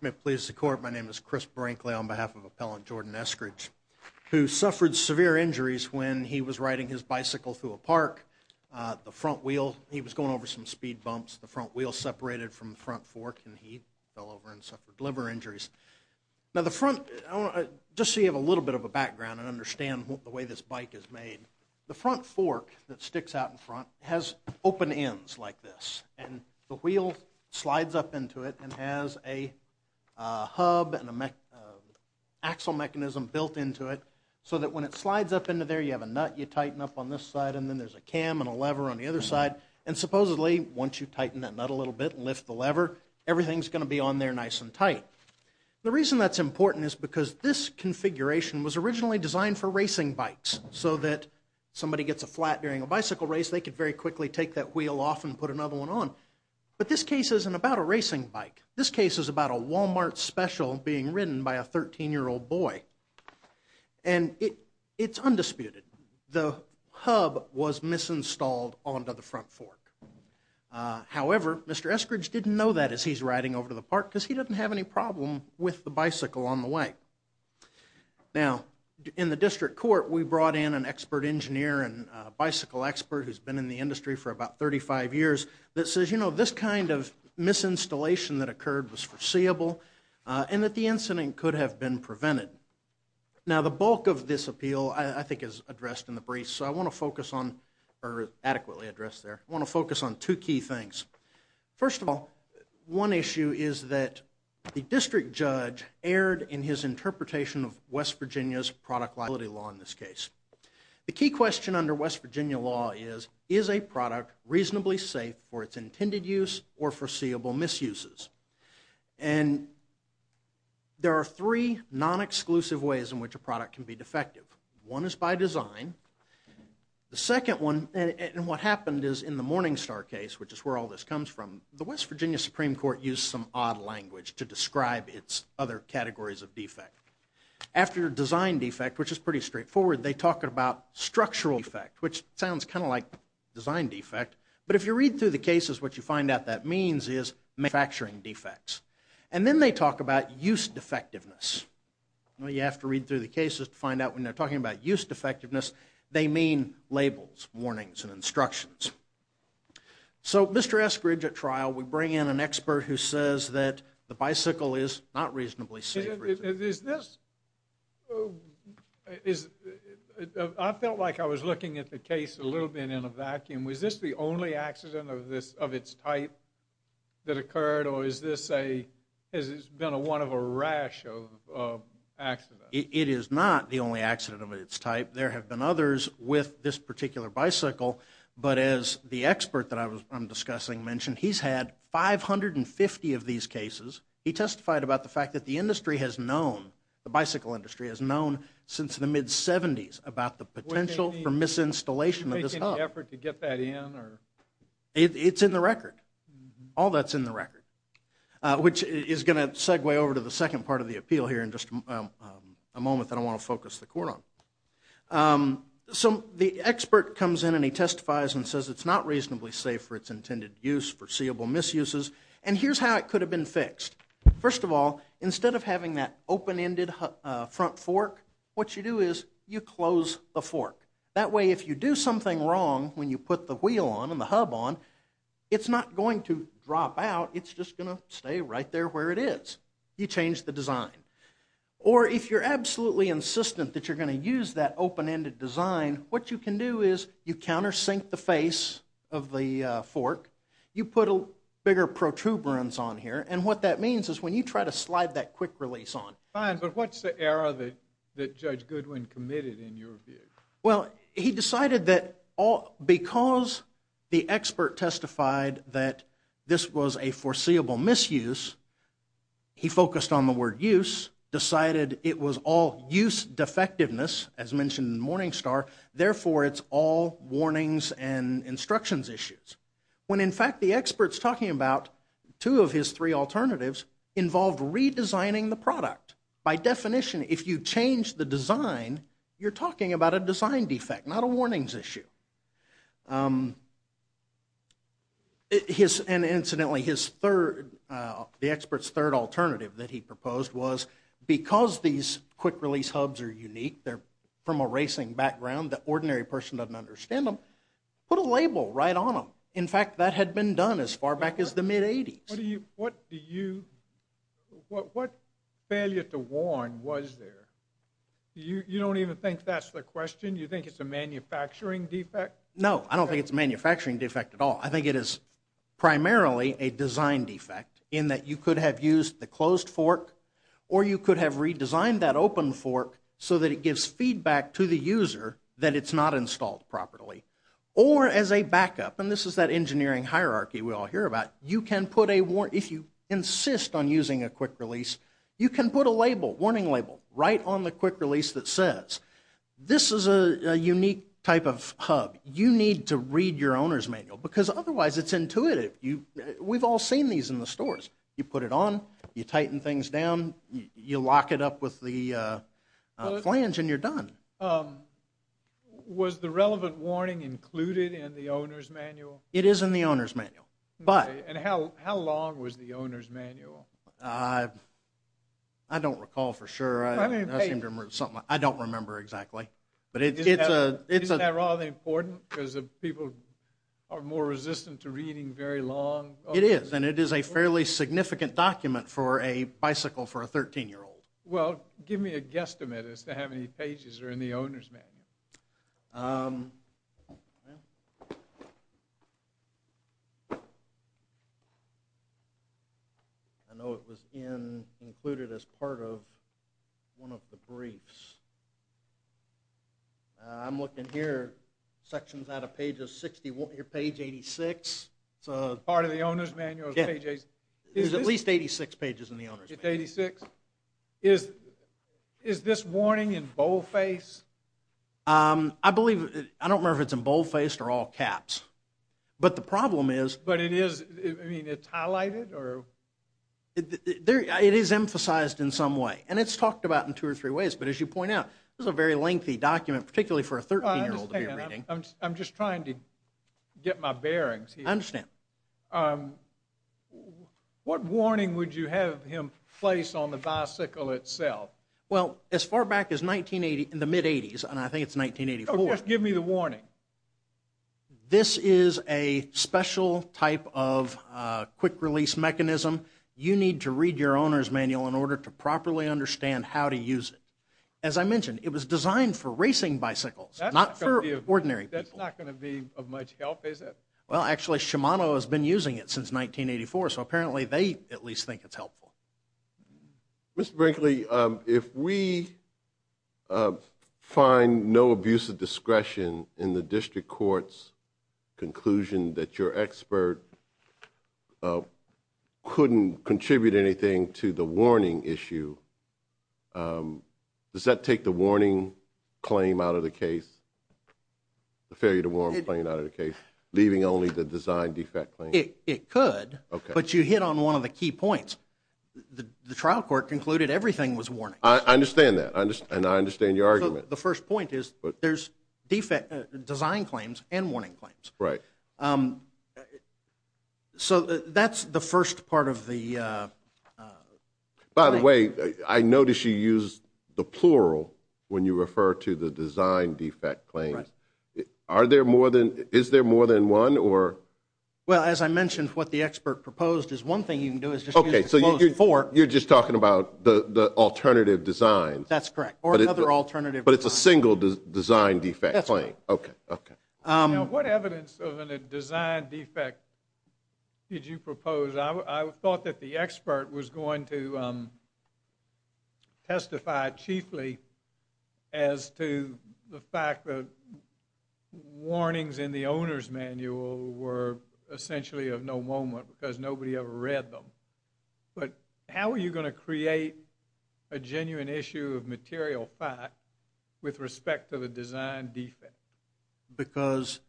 May it please the Court, my name is Chris Brinkley on behalf of Appellant Jordan Eskridge, who suffered severe injuries when he was riding his bicycle through a park. The front wheel, he was going over some speed bumps, the front wheel separated from the front fork and he fell over and suffered liver injuries. Now the front, just so you have a little bit of a background and understand the way this sticks out in front, it has open ends like this and the wheel slides up into it and has a hub and an axle mechanism built into it so that when it slides up into there you have a nut you tighten up on this side and then there's a cam and a lever on the other side and supposedly once you tighten that nut a little bit and lift the lever, everything's going to be on there nice and tight. The reason that's important is because this configuration was originally designed for a bicycle race. They could very quickly take that wheel off and put another one on. But this case isn't about a racing bike. This case is about a Walmart special being ridden by a 13-year-old boy and it's undisputed. The hub was misinstalled onto the front fork. However, Mr. Eskridge didn't know that as he's riding over to the park because he doesn't have any problem with the bicycle on the way. Now, in the district court we brought in an expert engineer and a bicycle expert who's been in the industry for about 35 years that says, you know, this kind of misinstallation that occurred was foreseeable and that the incident could have been prevented. Now the bulk of this appeal I think is addressed in the brief so I want to focus on, or adequately addressed there, I want to focus on two key things. First of all, one issue is that the district judge erred in his interpretation of West Virginia's product liability law in this case. The key question under West Virginia law is, is a product reasonably safe for its intended use or foreseeable misuses? And there are three non-exclusive ways in which a product can be defective. One is by design. The second one, and what happened is in the Morningstar case, which is where all this comes from, the West Virginia Supreme Court used some odd language to describe its other categories of defect. After design defect, which is pretty straightforward, they talk about structural defect, which sounds kind of like design defect, but if you read through the cases what you find out that means is manufacturing defects. And then they talk about use defectiveness. You have to read through the cases to find out when they're talking about use defectiveness they mean labels, warnings, and instructions. So Mr. Eskridge at trial would bring in an expert who says that the bicycle is not reasonably safe. Is this, I felt like I was looking at the case a little bit in a vacuum, was this the only accident? It is not the only accident of its type. There have been others with this particular bicycle, but as the expert that I'm discussing mentioned he's had 550 of these cases. He testified about the fact that the industry has known, the bicycle industry has known since the mid-70s about the potential for misinstallation of this stuff. Are you making an effort to get that in? It's in the record. All that's in the record. Which is going to segue over to the second part of the appeal here in just a moment that I want to focus the court on. So the expert comes in and he testifies and says it's not reasonably safe for its intended use, foreseeable misuses, and here's how it could have been fixed. First of all, instead of having that open-ended front fork, what you do is you close the fork. That way if you do something wrong when you put the wheel on and the hub on, it's not going to drop out, it's just going to stay right there where it is. You change the design. Or if you're absolutely insistent that you're going to use that open-ended design, what you can do is you countersink the face of the fork, you put bigger protuberance on here, and what that means is when you try to slide that quick-release on. Fine, but what's the error that Judge Goodwin committed in your view? Well, he decided that because the expert testified that this was a foreseeable misuse, he focused on the word use, decided it was all use defectiveness, as mentioned in Morningstar, therefore it's all warnings and instructions issues. When in fact the experts talking about two of his three alternatives involved redesigning the product. By definition, if you change the design, you're talking about a design defect, not a warnings issue. And incidentally, his third, the expert's third alternative that he proposed was because these quick-release hubs are unique, they're from a racing background, the ordinary person doesn't understand them, put a label right on them. In fact, that had been done as far back as the mid-80s. What do you, what failure to warn was there? You don't even think that's the question? You think it's a manufacturing defect? No, I don't think it's a manufacturing defect at all. I think it is primarily a design defect in that you could have used the closed fork or you could have redesigned that open fork so that it gives feedback to the user that it's not installed properly. Or as a backup, and this is that engineering hierarchy we all hear about, you can put a warning, if you insist on using a quick-release, you can put a label, warning label, right on the quick-release that says, this is a unique type of hub. You need to read your owner's manual because otherwise it's intuitive. We've all seen these in the stores. You put it on, you tighten things down, you lock it up with the flange and you're done. Was the relevant warning included in the owner's manual? It is in the owner's manual. And how long was the owner's manual? I don't recall for sure. I don't remember exactly. Isn't that rather important because people are more resistant to reading very long? It is, and it is a fairly significant document for a bicycle for a 13-year-old. Well, give me a guesstimate as to how many pages are in the owner's manual. I know it was included as part of one of the briefs. I'm looking here, sections out of page 86. Part of the owner's manual is page 86? There's at least 86 pages in the owner's manual. It's 86? Is this warning in boldface? I believe, I don't remember if it's in boldface or all caps. But the problem is. But it is, I mean, it's highlighted or? It is emphasized in some way. And it's talked about in two or three ways. But as you point out, this is a very lengthy document, particularly for a 13-year-old to be reading. I'm just trying to get my bearings here. I understand. What warning would you have him place on the bicycle itself? Well, as far back as 1980, in the mid-80s, and I think it's 1984. Oh, just give me the warning. This is a special type of quick-release mechanism. You need to read your owner's manual in order to properly understand how to use it. As I mentioned, it was designed for racing bicycles, not for ordinary people. That's not going to be of much help, is it? Well, actually, Shimano has been using it since 1984. So apparently, they at least think it's helpful. Mr. Brinkley, if we find no abuse of discretion in the district court's conclusion that your expert couldn't contribute anything to the warning issue, does that take the warning claim out of the case, the failure to warn claim out of the case, leaving only the design defect claim? It could, but you hit on one of the key points. The trial court concluded everything was warning. I understand that, and I understand your argument. The first point is there's design claims and warning claims. Right. So that's the first part of the claim. By the way, I noticed you used the plural when you refer to the design defect claim. Is there more than one? Well, as I mentioned, what the expert proposed is one thing you can do is just use the closed form. You're just talking about the alternative design. That's correct, or another alternative. But it's a single design defect claim. That's right. What evidence of a design defect did you propose? I thought that the expert was going to testify chiefly as to the fact that warnings in the owner's manual were essentially of no moment because nobody ever read them. But how are you going to create a genuine issue of material fact with respect to the design defect? Because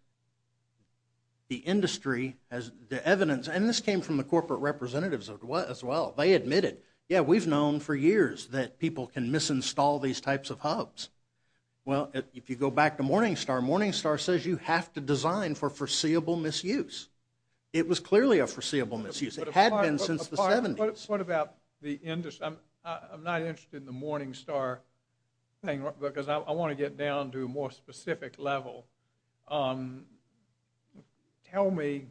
the industry has the evidence, and this came from the corporate representatives as well. They admitted, yeah, we've known for years that people can misinstall these types of hubs. Well, if you go back to Morningstar, Morningstar says you have to design for foreseeable misuse. It was clearly a foreseeable misuse. It had been since the 70s. What about the industry? I'm not interested in the Morningstar thing because I want to get down to a more specific level. Tell me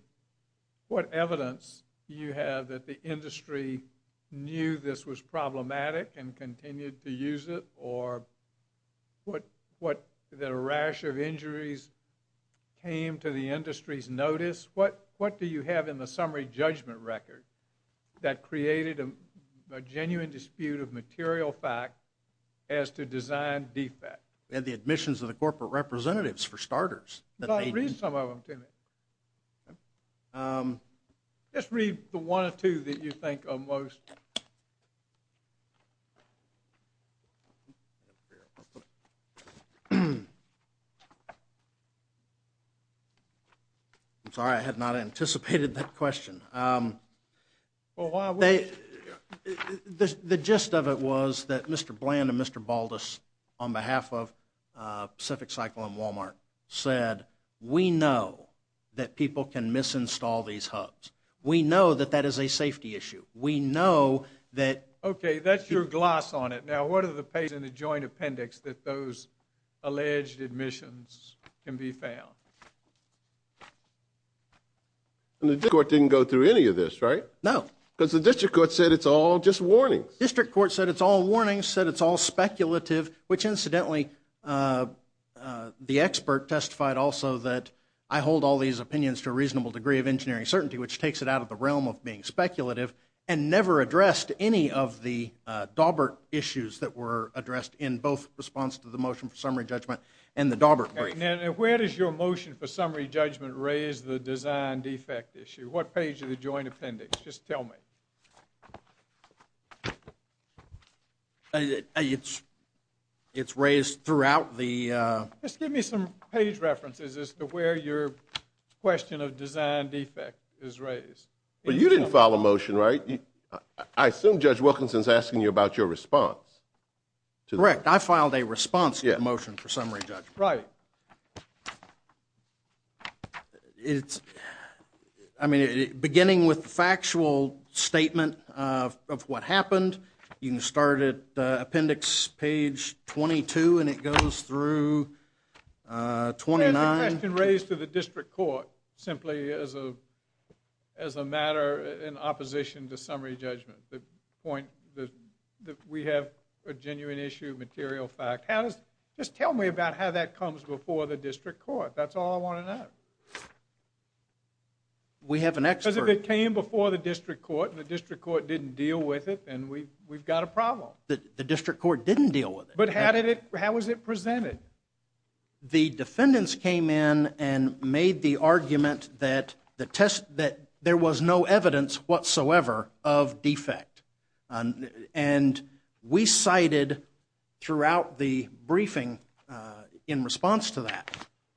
what evidence you have that the industry knew this was problematic and continued to use it, or that a rash of injuries came to the industry's notice. What do you have in the summary judgment record that created a genuine dispute of material fact as to design defect? We had the admissions of the corporate representatives, for starters. Read some of them, Timmy. Just read the one or two that you think are most... I'm sorry, I had not anticipated that question. Well, why would you? The gist of it was that Mr. Bland and Mr. Baldus, on behalf of Pacific Cycle and Walmart, said we know that people can misinstall these hubs. We know that that is a safety issue. We know that... Okay, that's your gloss on it. Now, what are the pages in the joint appendix that those alleged admissions can be found? The district court didn't go through any of this, right? No. Because the district court said it's all just warnings. District court said it's all warnings, said it's all speculative, which incidentally, the expert testified also that I hold all these opinions to a reasonable degree of engineering certainty, which takes it out of the realm of being speculative, and never addressed any of the Daubert issues that were addressed in both response to the motion for summary judgment and the Daubert brief. Now, where does your motion for summary judgment raise the design defect issue? What page of the joint appendix? Just tell me. It's raised throughout the... Just give me some page references as to where your question of design defect is raised. Well, you didn't file a motion, right? I assume Judge Wilkinson's asking you about your response to the motion. Correct. I filed a response to the motion for summary judgment. Right. It's... I mean, beginning with the factual statement of what happened, you can start at appendix page 22, and it goes through 29... There's a question raised to the district court, simply as a matter in opposition to summary judgment, the point that we have a genuine issue, material fact. How does... Just tell me about how that comes before the district court. That's all I want to know. We have an expert... Because if it came before the district court, and the district court didn't deal with it, then we've got a problem. The district court didn't deal with it. But how did it... How was it presented? The defendants came in and made the argument that there was no evidence whatsoever of defect. And we cited, throughout the briefing, in response to that,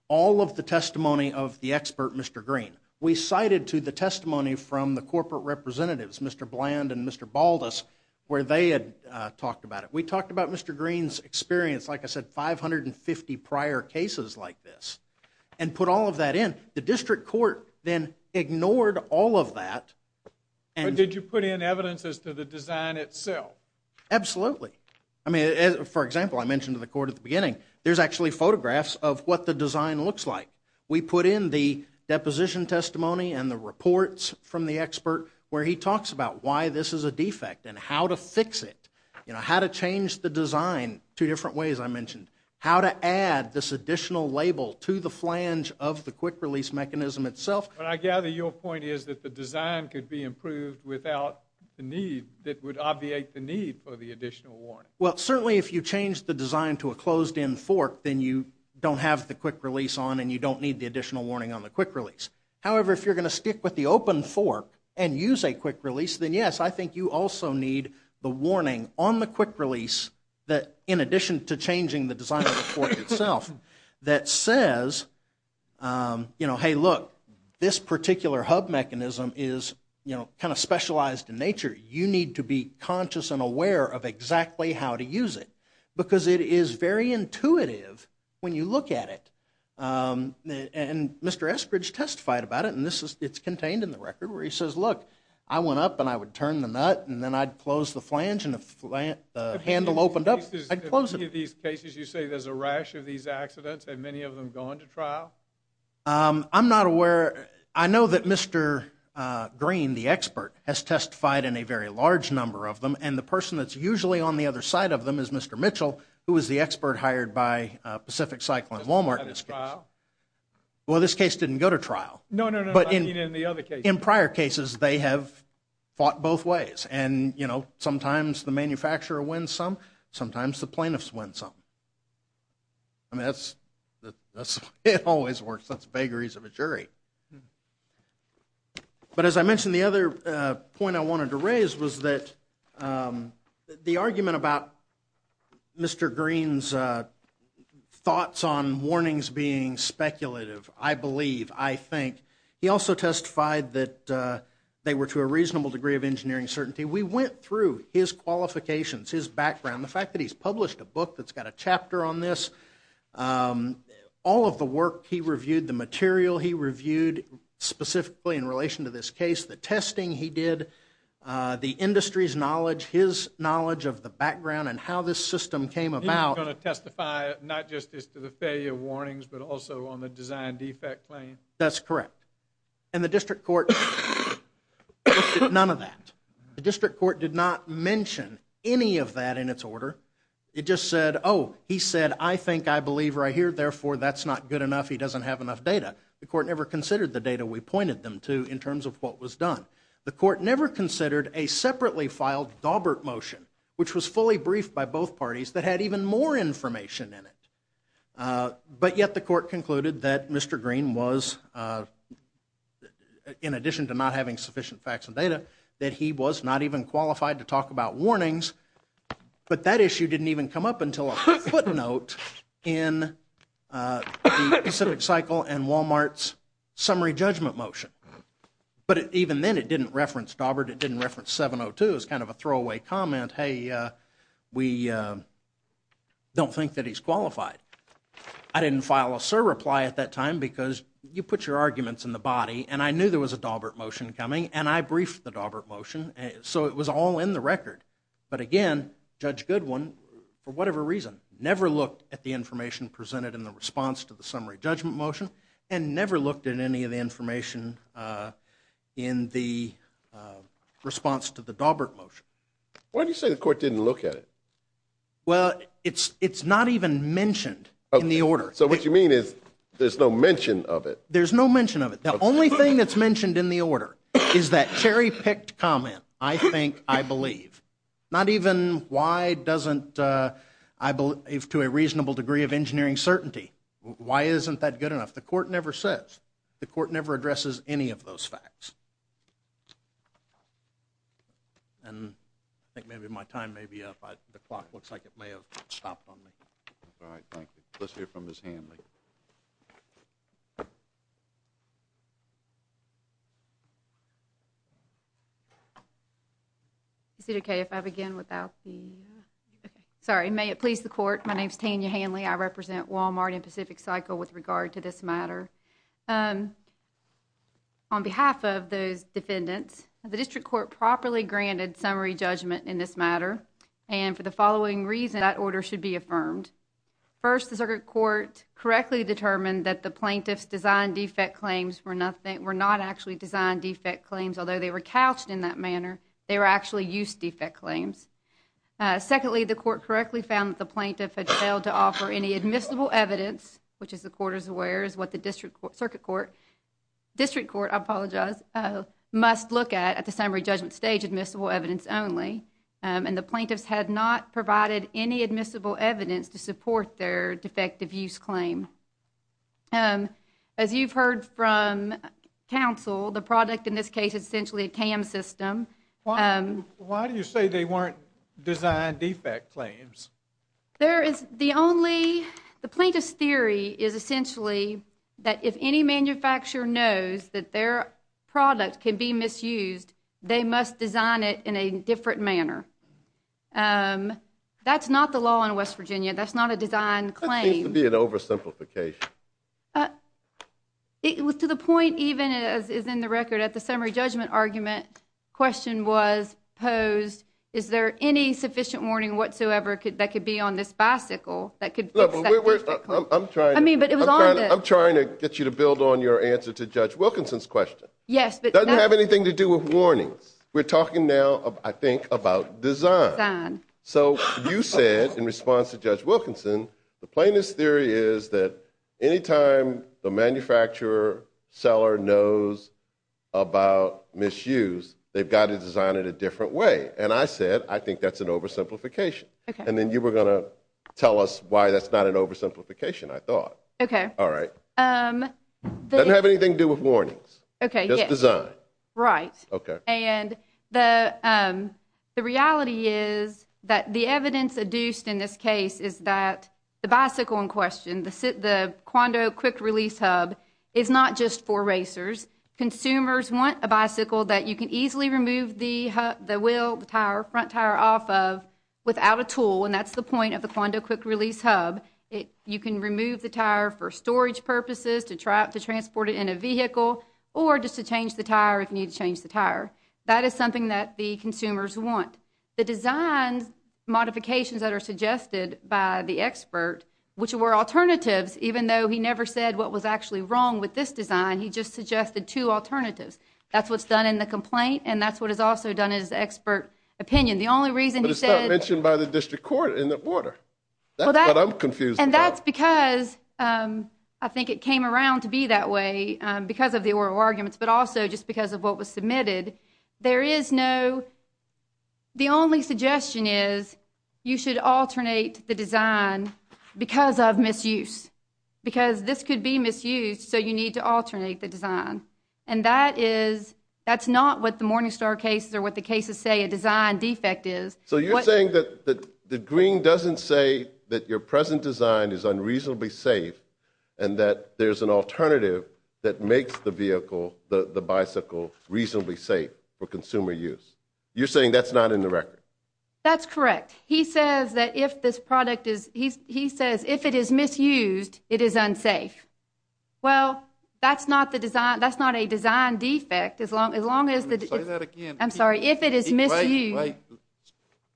all of the testimony of the expert, Mr. Green. We cited to the testimony from the corporate representatives, Mr. Bland and Mr. Baldus, where they had talked about it. We talked about Mr. Green's experience, like I said, 550 prior cases like this, and put all of that in. The district court then ignored all of that, and... And ignored the design itself. Absolutely. I mean, for example, I mentioned to the court at the beginning, there's actually photographs of what the design looks like. We put in the deposition testimony and the reports from the expert, where he talks about why this is a defect, and how to fix it. How to change the design two different ways, I mentioned. How to add this additional label to the flange of the quick-release mechanism itself. But I gather your point is that the design could be improved without the need, that would obviate the need for the additional warning. Well, certainly if you change the design to a closed-in fork, then you don't have the quick-release on, and you don't need the additional warning on the quick-release. However, if you're going to stick with the open fork, and use a quick-release, then yes, I think you also need the warning on the quick-release, that in addition to changing the design of that says, you know, hey, look, this particular hub mechanism is, you know, kind of specialized in nature. You need to be conscious and aware of exactly how to use it. Because it is very intuitive when you look at it. And Mr. Eskridge testified about it, and it's contained in the record, where he says, look, I went up and I would turn the nut, and then I'd close the flange, and if the handle opened up, I'd close it. In any of these cases, you say there's a rash of these accidents, have many of them gone to trial? I'm not aware. I know that Mr. Green, the expert, has testified in a very large number of them, and the person that's usually on the other side of them is Mr. Mitchell, who was the expert hired by Pacific Cycle and Wal-Mart in this case. Well, this case didn't go to trial. No, no, no, I mean in the other cases. In prior cases, they have fought both ways, and, you know, sometimes the manufacturer wins some, sometimes the plaintiffs win some. I mean, that's the way it always works. That's vagaries of a jury. But as I mentioned, the other point I wanted to raise was that the argument about Mr. Green's thoughts on warnings being speculative, I believe, I think, he also testified that they were to a reasonable degree of engineering certainty. We went through his qualifications, his background, the fact that he's published a book that's got a chapter on this, all of the work he reviewed, the material he reviewed specifically in relation to this case, the testing he did, the industry's knowledge, his knowledge of the background and how this system came about. He was going to testify not just as to the failure of warnings, but also on the design defect claim? That's correct. And the district court looked at none of that. The district court did not mention any of that in its order. It just said, oh, he said, I think, I believe right here, therefore, that's not good enough. He doesn't have enough data. The court never considered the data we pointed them to in terms of what was done. The court never considered a separately filed Daubert motion, which was fully briefed by both parties that had even more information in it. But yet the court concluded that Mr. Green was, in addition to not having sufficient facts and data, that he was not even qualified to talk about warnings. But that issue didn't even come up until a footnote in the Pacific Cycle and Walmart's summary judgment motion. But even then, it didn't reference Daubert. It didn't reference 702. It was kind of a throwaway comment, hey, we don't think that he's qualified. I didn't file a surreply at that time because you put your arguments in the body. And I knew there was a Daubert motion coming. And I briefed the Daubert motion. So it was all in the record. But again, Judge Goodwin, for whatever reason, never looked at the information presented in the response to the summary judgment motion and never looked at any of the information in the response to the Daubert motion. Why do you say the court didn't look at it? Well, it's not even mentioned in the order. So what you mean is there's no mention of it? There's no mention of it. The only thing that's mentioned in the order is that cherry-picked comment, I think, I believe. Not even why doesn't I believe to a reasonable degree of engineering certainty. Why isn't that good enough? The court never says. The court never addresses any of those facts. And I think maybe my time may be up. The clock looks like it may have stopped on me. All right. Thank you. Let's hear from Ms. Hanley. Ms. Hanley. Is it okay if I begin without the – sorry. May it please the court. My name is Tanya Hanley. I represent Walmart and Pacific Cycle with regard to this matter. On behalf of those defendants, the district court properly granted summary judgment in this matter. And for the following reason, that order should be affirmed. First, the circuit court correctly determined that the plaintiff's designed defect claims were not actually designed defect claims, although they were couched in that manner. They were actually used defect claims. Secondly, the court correctly found that the plaintiff had failed to offer any admissible evidence, which as the court is aware is what the district court – circuit court – district court, I apologize, must look at at the summary judgment stage admissible evidence only. And the plaintiffs had not provided any admissible evidence to support their defective use claim. As you've heard from counsel, the product in this case is essentially a CAM system. Why do you say they weren't designed defect claims? There is the only – the plaintiff's theory is essentially that if any manufacturer knows that their product can be misused, they must design it in a different manner. That's not the law in West Virginia. That's not a design claim. That seems to be an oversimplification. It was to the point, even as is in the record, at the summary judgment argument, the question was posed, is there any sufficient warning whatsoever that could be on this bicycle that could fix that defect claim? No, but we're – I'm trying to – I mean, but it was on the – I'm trying to get you to build on your answer to Judge Wilkins. Yes, but – It doesn't have anything to do with warnings. We're talking now, I think, about design. Design. So you said, in response to Judge Wilkinson, the plaintiff's theory is that any time the manufacturer, seller knows about misuse, they've got to design it a different way. And I said, I think that's an oversimplification. And then you were going to tell us why that's not an oversimplification, I thought. Okay. All right. It doesn't have anything to do with warnings. Okay, yes. Just design. Right. Okay. And the reality is that the evidence adduced in this case is that the bicycle in question, the Quando Quick Release Hub, is not just for racers. Consumers want a bicycle that you can easily remove the wheel, the tire, front tire off of without a tool, and that's the point of the Quando Quick Release Hub. You can remove the tire for storage purposes, to transport it in a vehicle, or just to change the tire if you need to change the tire. That is something that the consumers want. The design modifications that are suggested by the expert, which were alternatives, even though he never said what was actually wrong with this design, he just suggested two alternatives. That's what's done in the complaint, and that's what is also done in his expert opinion. The only reason he said— But it's not mentioned by the district court in the order. That's what I'm confused about. And that's because I think it came around to be that way because of the oral arguments, but also just because of what was submitted. There is no—the only suggestion is you should alternate the design because of misuse. Because this could be misused, so you need to alternate the design. And that is—that's not what the Morningstar cases or what the cases say a design defect is. So you're saying that the green doesn't say that your present design is unreasonably safe and that there's an alternative that makes the vehicle, the bicycle, reasonably safe for consumer use. You're saying that's not in the record? That's correct. He says that if this product is—he says if it is misused, it is unsafe. Well, that's not a design defect as long as— Say that again. I'm sorry. If it is misused— Wait, wait.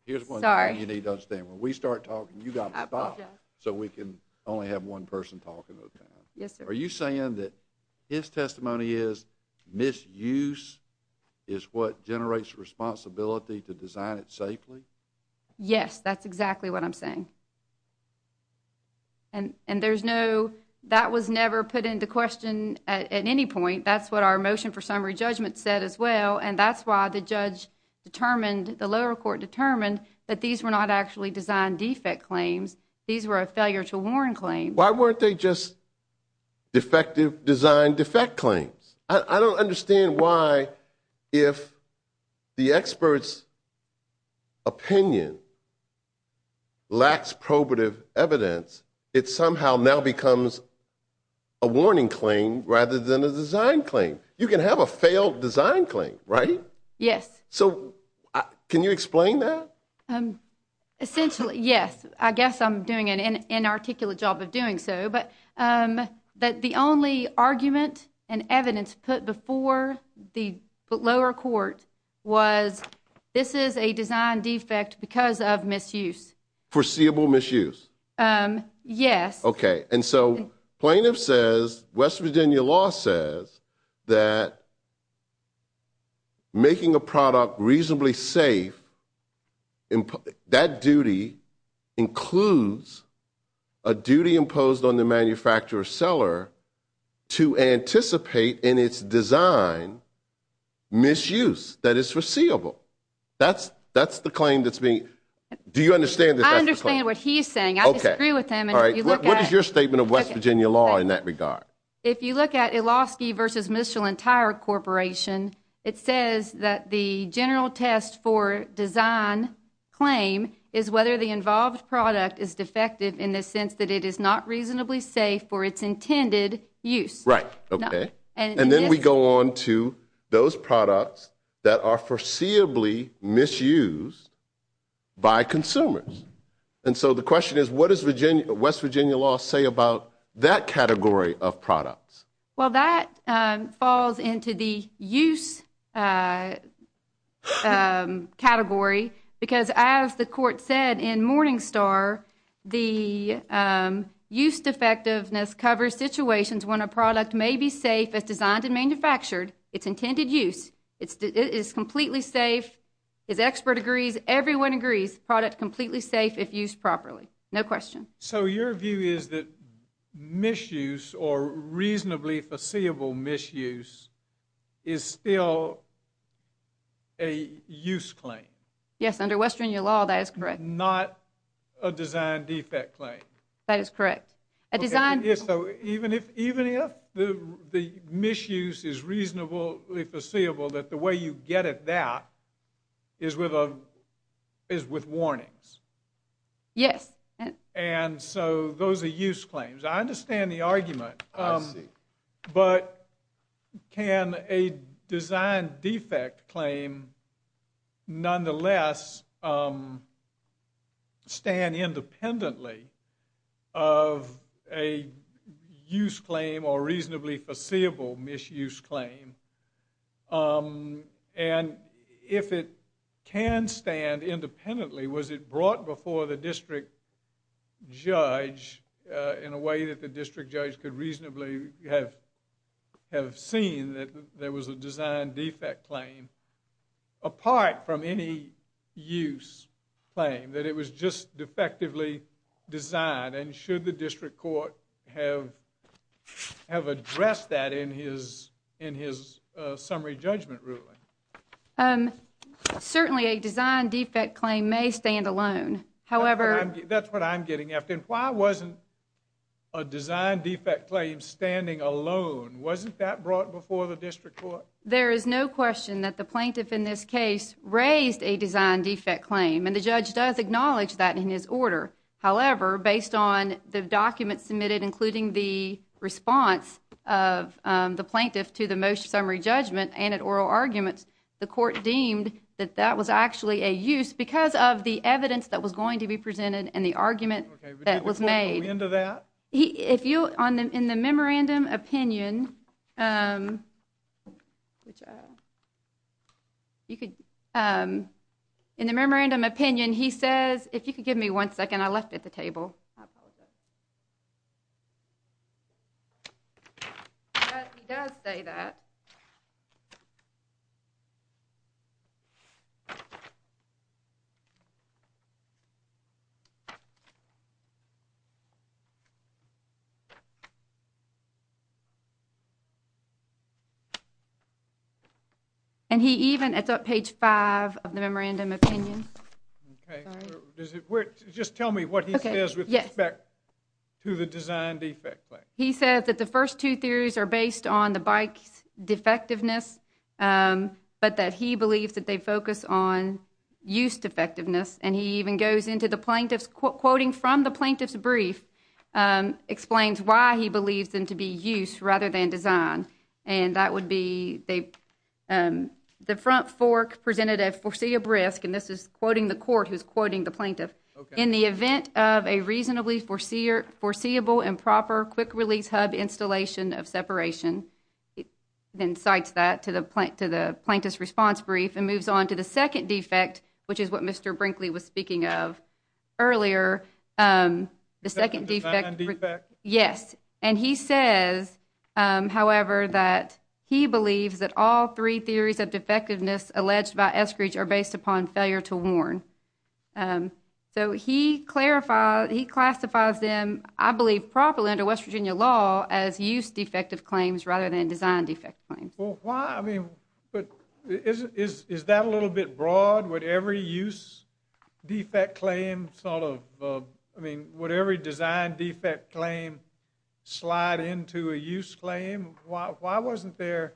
Here's one thing you need to understand. Sorry. When we start talking, you've got to stop so we can only have one person talking at a time. Yes, sir. Are you saying that his testimony is misuse is what generates responsibility to design it safely? Yes, that's exactly what I'm saying. And there's no—that was never put into question at any point. That's what our motion for summary judgment said as well. And that's why the judge determined, the lower court determined that these were not actually design defect claims. These were a failure to warn claim. Why weren't they just defective design defect claims? I don't understand why if the expert's opinion lacks probative evidence, it somehow now becomes a warning claim rather than a design claim. You can have a failed design claim, right? Yes. So, can you explain that? Essentially, yes. I guess I'm doing an inarticulate job of doing so. But the only argument and evidence put before the lower court was this is a design defect because of misuse. Foreseeable misuse. Yes. Okay. And so, plaintiff says, West Virginia law says that making a product reasonably safe, that duty includes a duty imposed on the manufacturer or seller to anticipate in its design misuse that is foreseeable. That's the claim that's being—do you understand that that's the claim? I understand what he's saying. I disagree with him. All right. What is your statement of West Virginia law in that regard? If you look at Ilofsky v. Mitchell & Tyre Corporation, it says that the general test for design claim is whether the involved product is defective in the sense that it is not reasonably safe for its intended use. Right. Okay. And then we go on to those products that are foreseeably misused by consumers. And so, the question is, what does West Virginia law say about that category of products? Well, that falls into the use category because, as the court said in Morningstar, the use defectiveness covers situations when a product may be safe as designed and manufactured, its intended use. It is completely safe. As expert agrees, everyone agrees, product completely safe if used properly. No question. So, your view is that misuse or reasonably foreseeable misuse is still a use claim? Yes. Under West Virginia law, that is correct. Not a design defect claim? That is correct. A design— So, even if the misuse is reasonably foreseeable, that the way you get at that is with warnings? Yes. And so, those are use claims. I understand the argument. I see. But can a design defect claim nonetheless stand independently of a use claim or reasonably foreseeable misuse claim? And if it can stand independently, was it brought before the district judge in a way that the district judge could reasonably have seen that there was a design defect claim apart from any use claim, that it was just defectively designed? And should the district court have addressed that in his summary judgment ruling? Certainly, a design defect claim may stand alone. However— That's what I'm getting at. Then why wasn't a design defect claim standing alone? Wasn't that brought before the district court? There is no question that the plaintiff in this case raised a design defect claim. And the judge does acknowledge that in his order. However, based on the documents submitted, including the response of the plaintiff to the motion summary judgment and at oral arguments, the court deemed that that was actually a use because of the evidence that was going to be presented and the argument— Okay, but that was made. In the end of that? In the memorandum opinion, he says—if you could give me one second. I left it at the table. I apologize. He does say that. And he even—it's on page 5 of the memorandum opinion. Okay. Sorry. Does it—just tell me what he says with respect— To the design defect claim. He says that the first two theories are based on the bike's defectiveness, but that he believes that they focus on use defectiveness. And he even goes into the plaintiff's—quoting from the plaintiff's brief explains why he believes them to be use rather than design. And that would be they—the front fork presented a foreseeable risk. And this is quoting the court who's quoting the plaintiff. Okay. And in the event of a reasonably foreseeable improper quick-release hub installation of separation, then cites that to the plaintiff's response brief and moves on to the second defect, which is what Mr. Brinkley was speaking of earlier. The second defect— Design defect? Yes. And he says, however, that he believes that all three theories of defectiveness alleged by Eskridge are based upon failure to warn. So he clarifies—he classifies them, I believe properly under West Virginia law, as use defective claims rather than design defect claims. Well, why—I mean, but is that a little bit broad? Would every use defect claim sort of—I mean, would every design defect claim slide into a use claim? Why wasn't there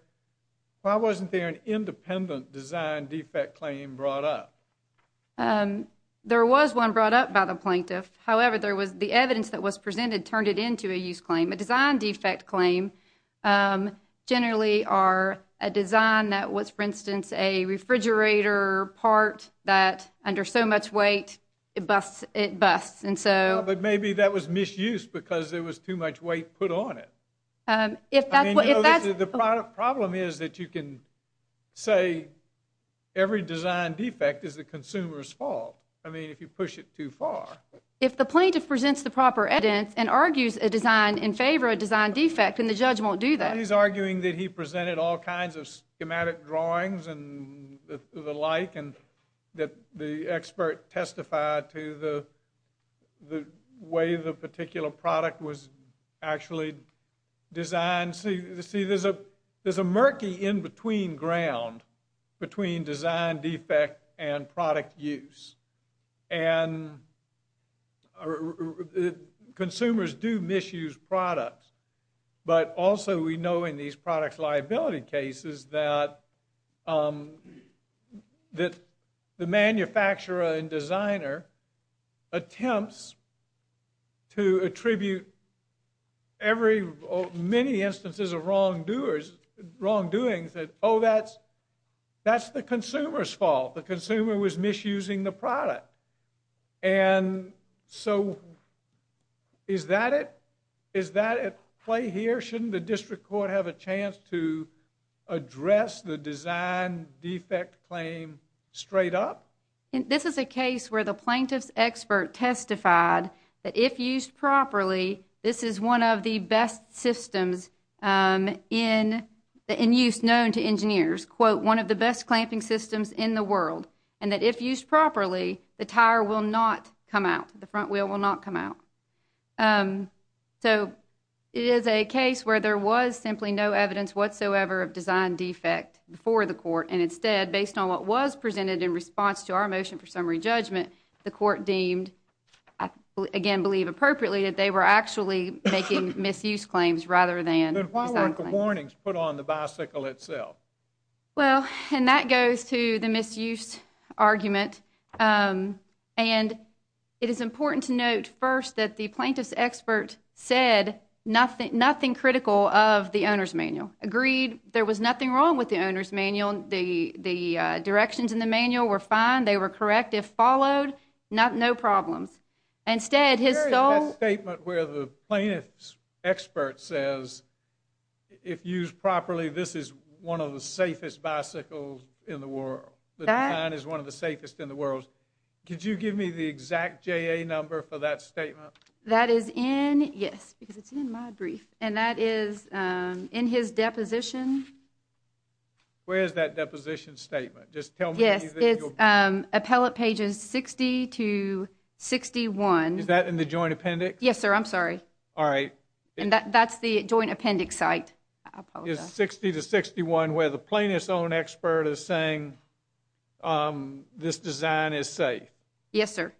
an independent design defect claim brought up? There was one brought up by the plaintiff. However, there was—the evidence that was presented turned it into a use claim. A design defect claim generally are a design that was, for instance, a refrigerator part that, under so much weight, it busts. And so— Well, but maybe that was misuse because there was too much weight put on it. If that's what— The problem is that you can say every design defect is the consumer's fault. I mean, if you push it too far. If the plaintiff presents the proper evidence and argues a design in favor of a design defect, then the judge won't do that. He's arguing that he presented all kinds of schematic drawings and the like, and that the expert testified to the way the particular product was actually designed. See, there's a murky in-between ground between design defect and product use. And consumers do misuse products. But also, we know in these product liability cases that the manufacturer and designer attempts to attribute every—many instances of wrongdoings that, oh, that's the consumer's fault. And so, is that at play here? Shouldn't the district court have a chance to address the design defect claim straight up? This is a case where the plaintiff's expert testified that if used properly, this is one of the best systems in use known to engineers. Quote, one of the best clamping systems in the world. And that if used properly, the tire will not come out. The front wheel will not come out. So, it is a case where there was simply no evidence whatsoever of design defect before the court. And instead, based on what was presented in response to our motion for summary judgment, the court deemed, I again believe appropriately, that they were actually making misuse claims rather than design claims. Then why weren't the warnings put on the bicycle itself? Well, and that goes to the misuse argument. And it is important to note first that the plaintiff's expert said nothing critical of the owner's manual, agreed. There was nothing wrong with the owner's manual. The directions in the manual were fine. They were correct. If followed, no problems. Instead, his sole— —in the world. The design is one of the safest in the world. Could you give me the exact JA number for that statement? That is in—yes, because it's in my brief. And that is in his deposition. Where is that deposition statement? Just tell me— Yes, it's appellate pages 60 to 61. Is that in the joint appendix? Yes, sir. I'm sorry. All right. And that's the joint appendix site. It's 60 to 61 where the plaintiff's own expert is saying this design is safe. Yes, sir.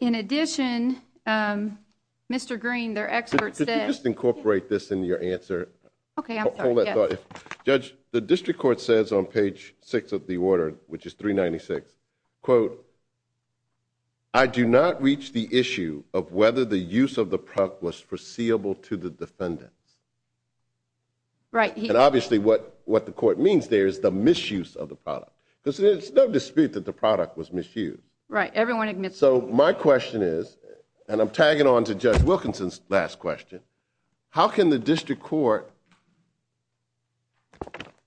In addition, Mr. Green, their expert said— Could you just incorporate this into your answer? Okay, I'm sorry. Hold that thought. Judge, the district court says on page 6 of the order, which is 396, quote, Right. And obviously what the court means there is the misuse of the product. There's no dispute that the product was misused. Right. Everyone admits that. So my question is, and I'm tagging on to Judge Wilkinson's last question, how can the district court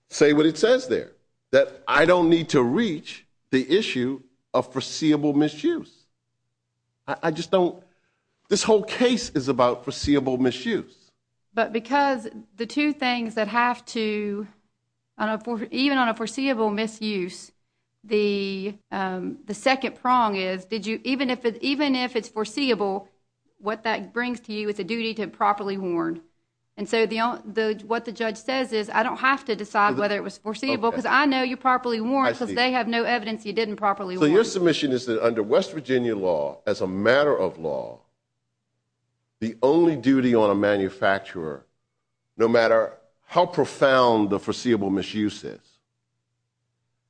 say what it says there? That I don't need to reach the issue of foreseeable misuse. I just don't... This whole case is about foreseeable misuse. But because the two things that have to... Even on a foreseeable misuse, the second prong is even if it's foreseeable, what that brings to you is a duty to properly warn. And so what the judge says is I don't have to decide whether it was foreseeable because I know you properly warned because they have no evidence you didn't properly warn. So your submission is that under West Virginia law, as a matter of law, the only duty on a manufacturer, no matter how profound the foreseeable misuse is,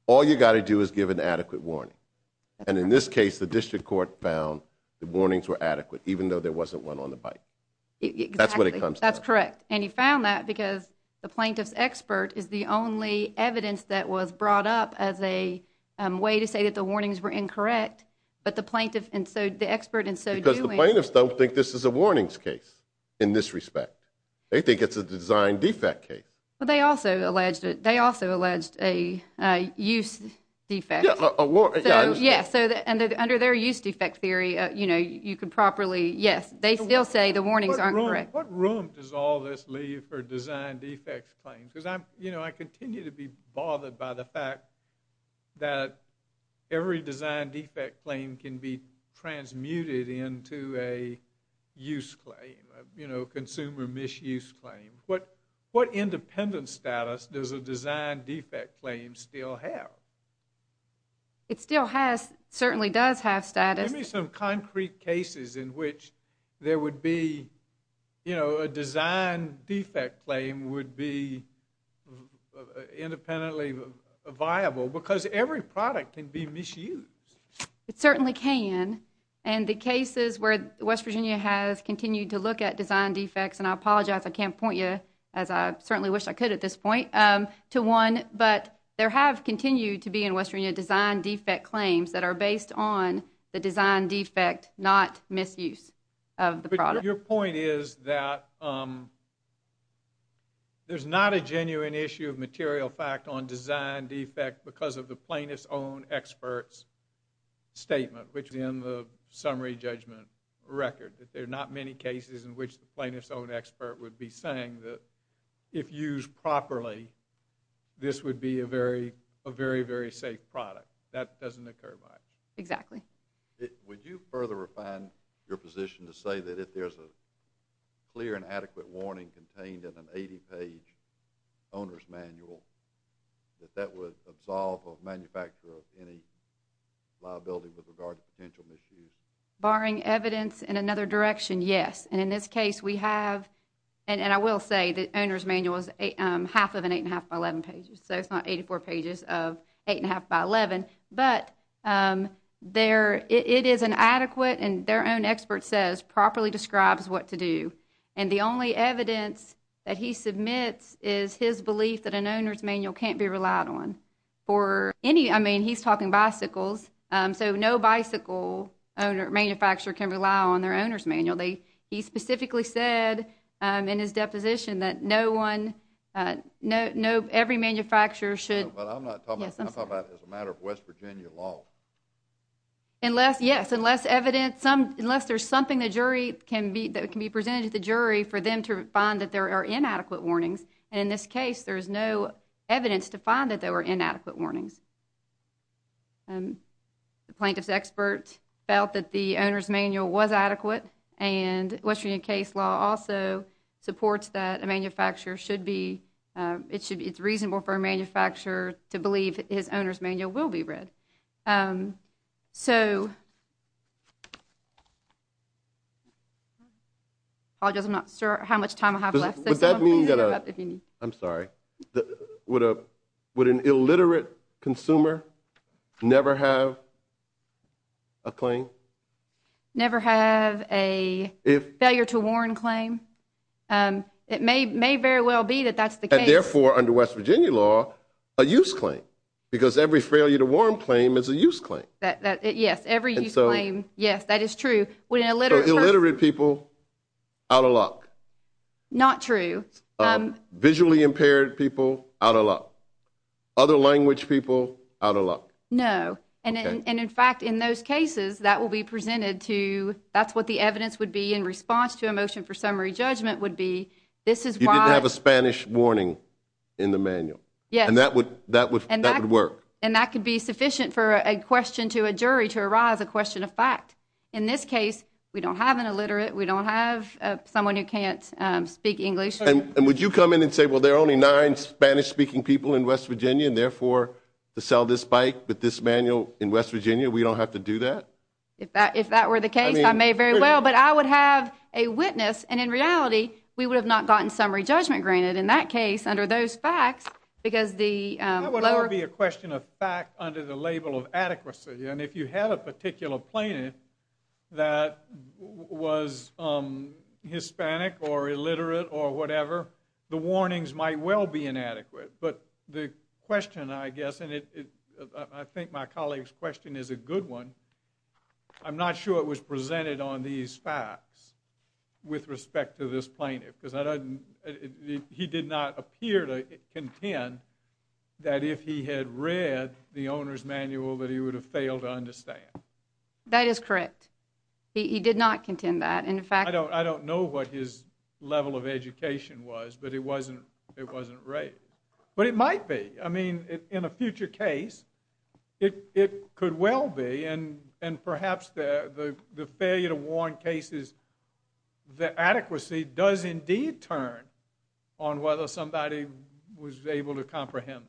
all you've got to do is give an adequate warning. And in this case, the district court found the warnings were adequate, even though there wasn't one on the bike. Exactly. That's what it comes to. That's correct. And you found that because the plaintiff's expert is the only evidence that was brought up as a way to say that the warnings were incorrect. But the expert in so doing... Because the plaintiffs don't think this is a warnings case in this respect. They think it's a design defect case. Well, they also alleged a use defect. Yeah. So under their use defect theory, you could properly... Yes, they still say the warnings aren't correct. What room does all this leave for design defect claims? Because I continue to be bothered by the fact that every design defect claim can be transmuted into a use claim, a consumer misuse claim. What independent status does a design defect claim still have? It still has, certainly does have, status... You know, a design defect claim would be independently viable because every product can be misused. It certainly can. And the cases where West Virginia has continued to look at design defects, and I apologize, I can't point you, as I certainly wish I could at this point, to one, but there have continued to be in West Virginia design defect claims that are based on the design defect, not misuse of the product. Your point is that there's not a genuine issue of material fact on design defect because of the plaintiff's own expert's statement, which is in the summary judgment record, that there are not many cases in which the plaintiff's own expert would be saying that if used properly, this would be a very, very safe product. That doesn't occur by... Exactly. Would you further refine your position to say that if there's a clear and adequate warning contained in an 80-page owner's manual, that that would absolve a manufacturer of any liability with regard to potential misuse? Barring evidence in another direction, yes. And in this case, we have... And I will say the owner's manual is half of an 8.5 by 11 page, so it's not 84 pages of 8.5 by 11, but it is an adequate and their own expert says properly describes what to do. And the only evidence that he submits is his belief that an owner's manual can't be relied on. For any... I mean, he's talking bicycles, so no bicycle manufacturer can rely on their owner's manual. He specifically said in his deposition that no one... every manufacturer should... I'm talking about as a matter of West Virginia law. Unless, yes, unless evidence... unless there's something the jury can be... that can be presented to the jury for them to find that there are inadequate warnings. And in this case, there's no evidence to find that there were inadequate warnings. The plaintiff's expert felt that the owner's manual was adequate, and West Virginia case law also supports that a manufacturer should be... it's reasonable for a manufacturer to believe his owner's manual will be read. So... I apologize, I'm not sure how much time I have left. Would that mean that a... I'm sorry. Would an illiterate consumer never have a claim? Never have a failure to warn claim? It may very well be that that's the case. And therefore, under West Virginia law, a use claim. Because every failure to warn claim is a use claim. Yes, every use claim, yes, that is true. Would an illiterate person... So illiterate people, out of luck. Not true. Visually impaired people, out of luck. Other language people, out of luck. Okay. And in fact, in those cases, that will be presented to... You didn't have a Spanish warning in the manual. Yes. And that would work. And that could be sufficient for a question to a jury to arise, a question of fact. In this case, we don't have an illiterate, we don't have someone who can't speak English. And would you come in and say, well, there are only nine Spanish-speaking people in West Virginia, and therefore, to sell this bike with this manual in West Virginia, we don't have to do that? If that were the case, I may very well. But I would have a witness, and in reality, we would have not gotten summary judgment granted in that case, under those facts, because the... That would already be a question of fact under the label of adequacy. And if you had a particular plaintiff that was Hispanic or illiterate or whatever, the warnings might well be inadequate. But the question, I guess, and I think my colleague's question is a good one. I'm not sure it was presented on these facts with respect to this plaintiff, because he did not appear to contend that if he had read the owner's manual, that he would have failed to understand. That is correct. He did not contend that. In fact... I don't know what his level of education was, but it wasn't right. But it might be. I mean, in a future case, it could well be, and perhaps the failure to warn cases, the adequacy does indeed turn on whether somebody was able to comprehend them.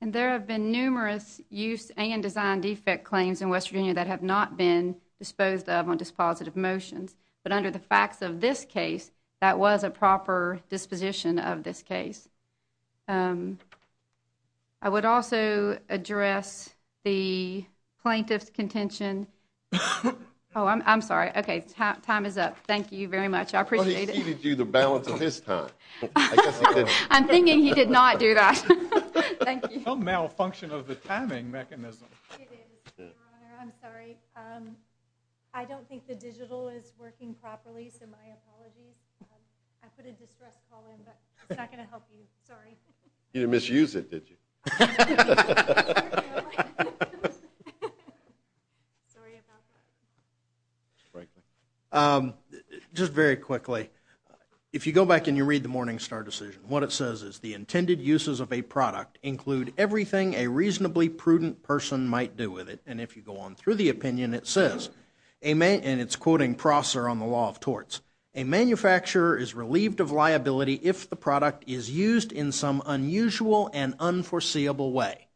And there have been numerous use and design defect claims in West Virginia that have not been disposed of on dispositive motions. But under the facts of this case, that was a proper disposition of this case. I would also address the plaintiff's contention... Oh, I'm sorry. Okay, time is up. Thank you very much. I appreciate it. Well, he ceded you the balance of his time. I'm thinking he did not do that. Thank you. Some malfunction of the timing mechanism. It is, Your Honor. I'm sorry. I don't think the digital is working properly, so my apologies. I put a distress call in, but it's not going to help you. Sorry. You didn't misuse it, did you? I don't know. Sorry about that. Frankly. Just very quickly, if you go back and you read the Morningstar decision, what it says is, the intended uses of a product include everything a reasonably prudent person might do with it. And if you go on through the opinion, it says, and it's quoting Prosser on the Law of Torts, a manufacturer is relieved of liability if the product is used in some unusual and unforeseeable way.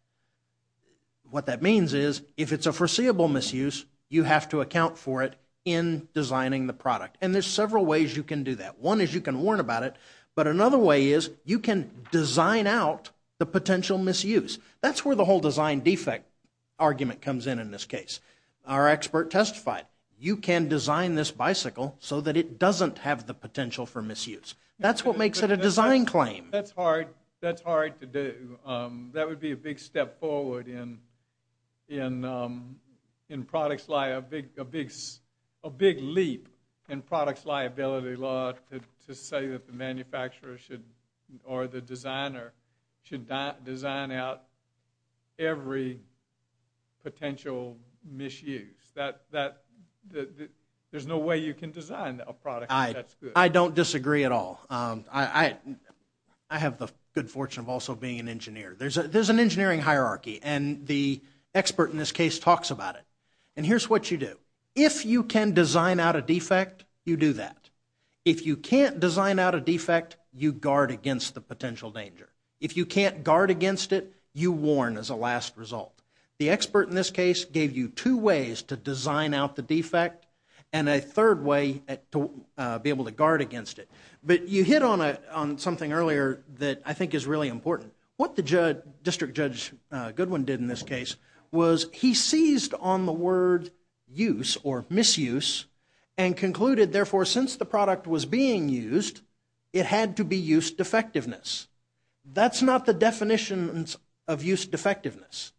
What that means is, if it's a foreseeable misuse, you have to account for it in designing the product. And there's several ways you can do that. One is you can warn about it. But another way is you can design out the potential misuse. That's where the whole design defect argument comes in in this case. Our expert testified, you can design this bicycle so that it doesn't have the potential for misuse. That's what makes it a design claim. That's hard to do. That would be a big step forward in products, a big leap in products liability law to say that the manufacturer or the designer should not design out every potential misuse. There's no way you can design a product if that's good. I don't disagree at all. I have the good fortune of also being an engineer. There's an engineering hierarchy, and the expert in this case talks about it. And here's what you do. If you can design out a defect, you do that. If you can't design out a defect, you guard against the potential danger. If you can't guard against it, you warn as a last result. The expert in this case gave you two ways to design out the defect and a third way to be able to guard against it. But you hit on something earlier that I think is really important. What the district judge Goodwin did in this case was he seized on the word use or misuse and concluded therefore since the product was being used, it had to be use defectiveness. That's not the definition of use defectiveness.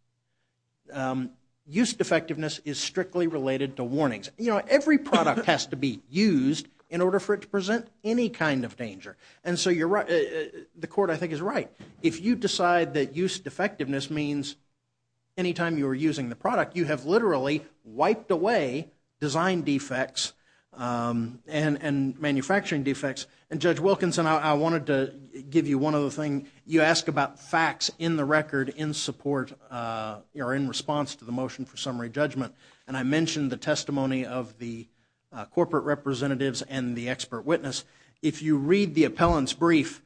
Use defectiveness is strictly related to warnings. Every product has to be used in order for it to present any kind of danger. And so the court I think is right. If you decide that use defectiveness means anytime you are using the product, you have literally wiped away design defects and manufacturing defects. And Judge Wilkinson, I wanted to give you one other thing. You ask about facts in the record in support or in response to the motion for summary judgment. And I mentioned the testimony of the corporate representatives and the expert witness. If you read the appellant's brief,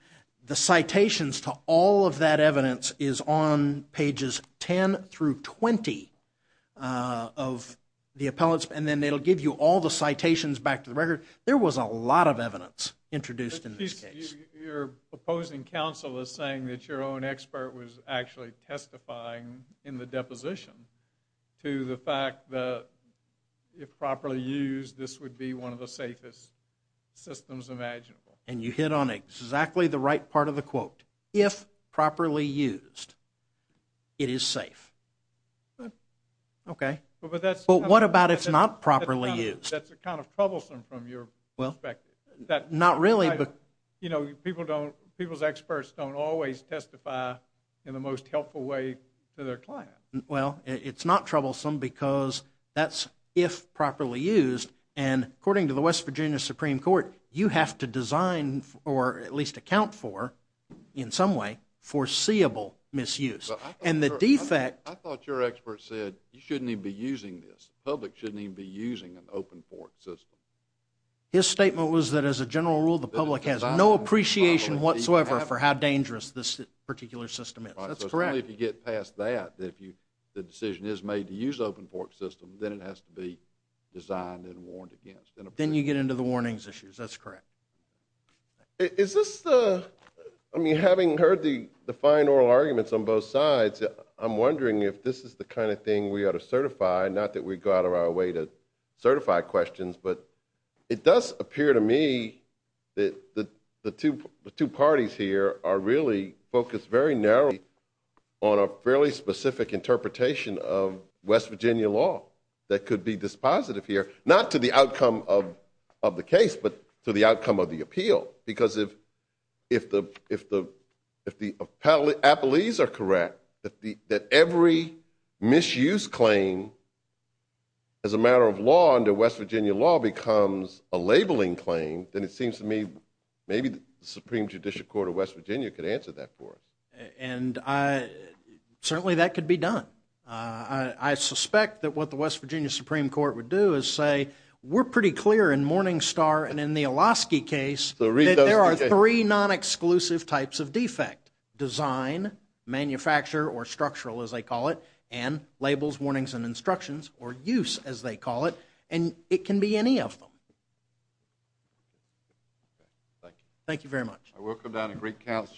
the citations to all of that evidence is on pages 10 through 20 of the appellant's. And then they'll give you all the citations back to the record. There was a lot of evidence introduced in this case. Your opposing counsel is saying that your own expert was actually testifying in the deposition to the fact that if properly used, this would be one of the safest systems imaginable. And you hit on exactly the right part of the quote. If properly used, it is safe. Okay. But what about if not properly used? That's kind of troublesome from your perspective. Not really. People's experts don't always testify in the most helpful way to their client. Well, it's not troublesome because that's if properly used. And according to the West Virginia Supreme Court, you have to design or at least account for, in some way, foreseeable misuse. And the defect – I thought your expert said you shouldn't even be using this. The public shouldn't even be using an open fork system. His statement was that as a general rule, the public has no appreciation whatsoever for how dangerous this particular system is. That's correct. Only if you get past that, that if the decision is made to use an open fork system, then it has to be designed and warned against. Then you get into the warnings issues. That's correct. Is this the – I mean, having heard the fine oral arguments on both sides, I'm wondering if this is the kind of thing we ought to certify, not that we go out of our way to certify questions, but it does appear to me that the two parties here are really focused very narrowly on a fairly specific interpretation of West Virginia law that could be dispositive here, not to the outcome of the case, but to the outcome of the appeal. Because if the appellees are correct, that every misuse claim as a matter of law under West Virginia law becomes a labeling claim, then it seems to me maybe the Supreme Judicial Court of West Virginia could answer that for us. And certainly that could be done. I suspect that what the West Virginia Supreme Court would do is say, we're pretty clear in Morningstar and in the Oloski case that there are three non-exclusive types of defect, design, manufacture, or structural as they call it, and labels, warnings, and instructions, or use as they call it, and it can be any of them. Thank you. Thank you very much.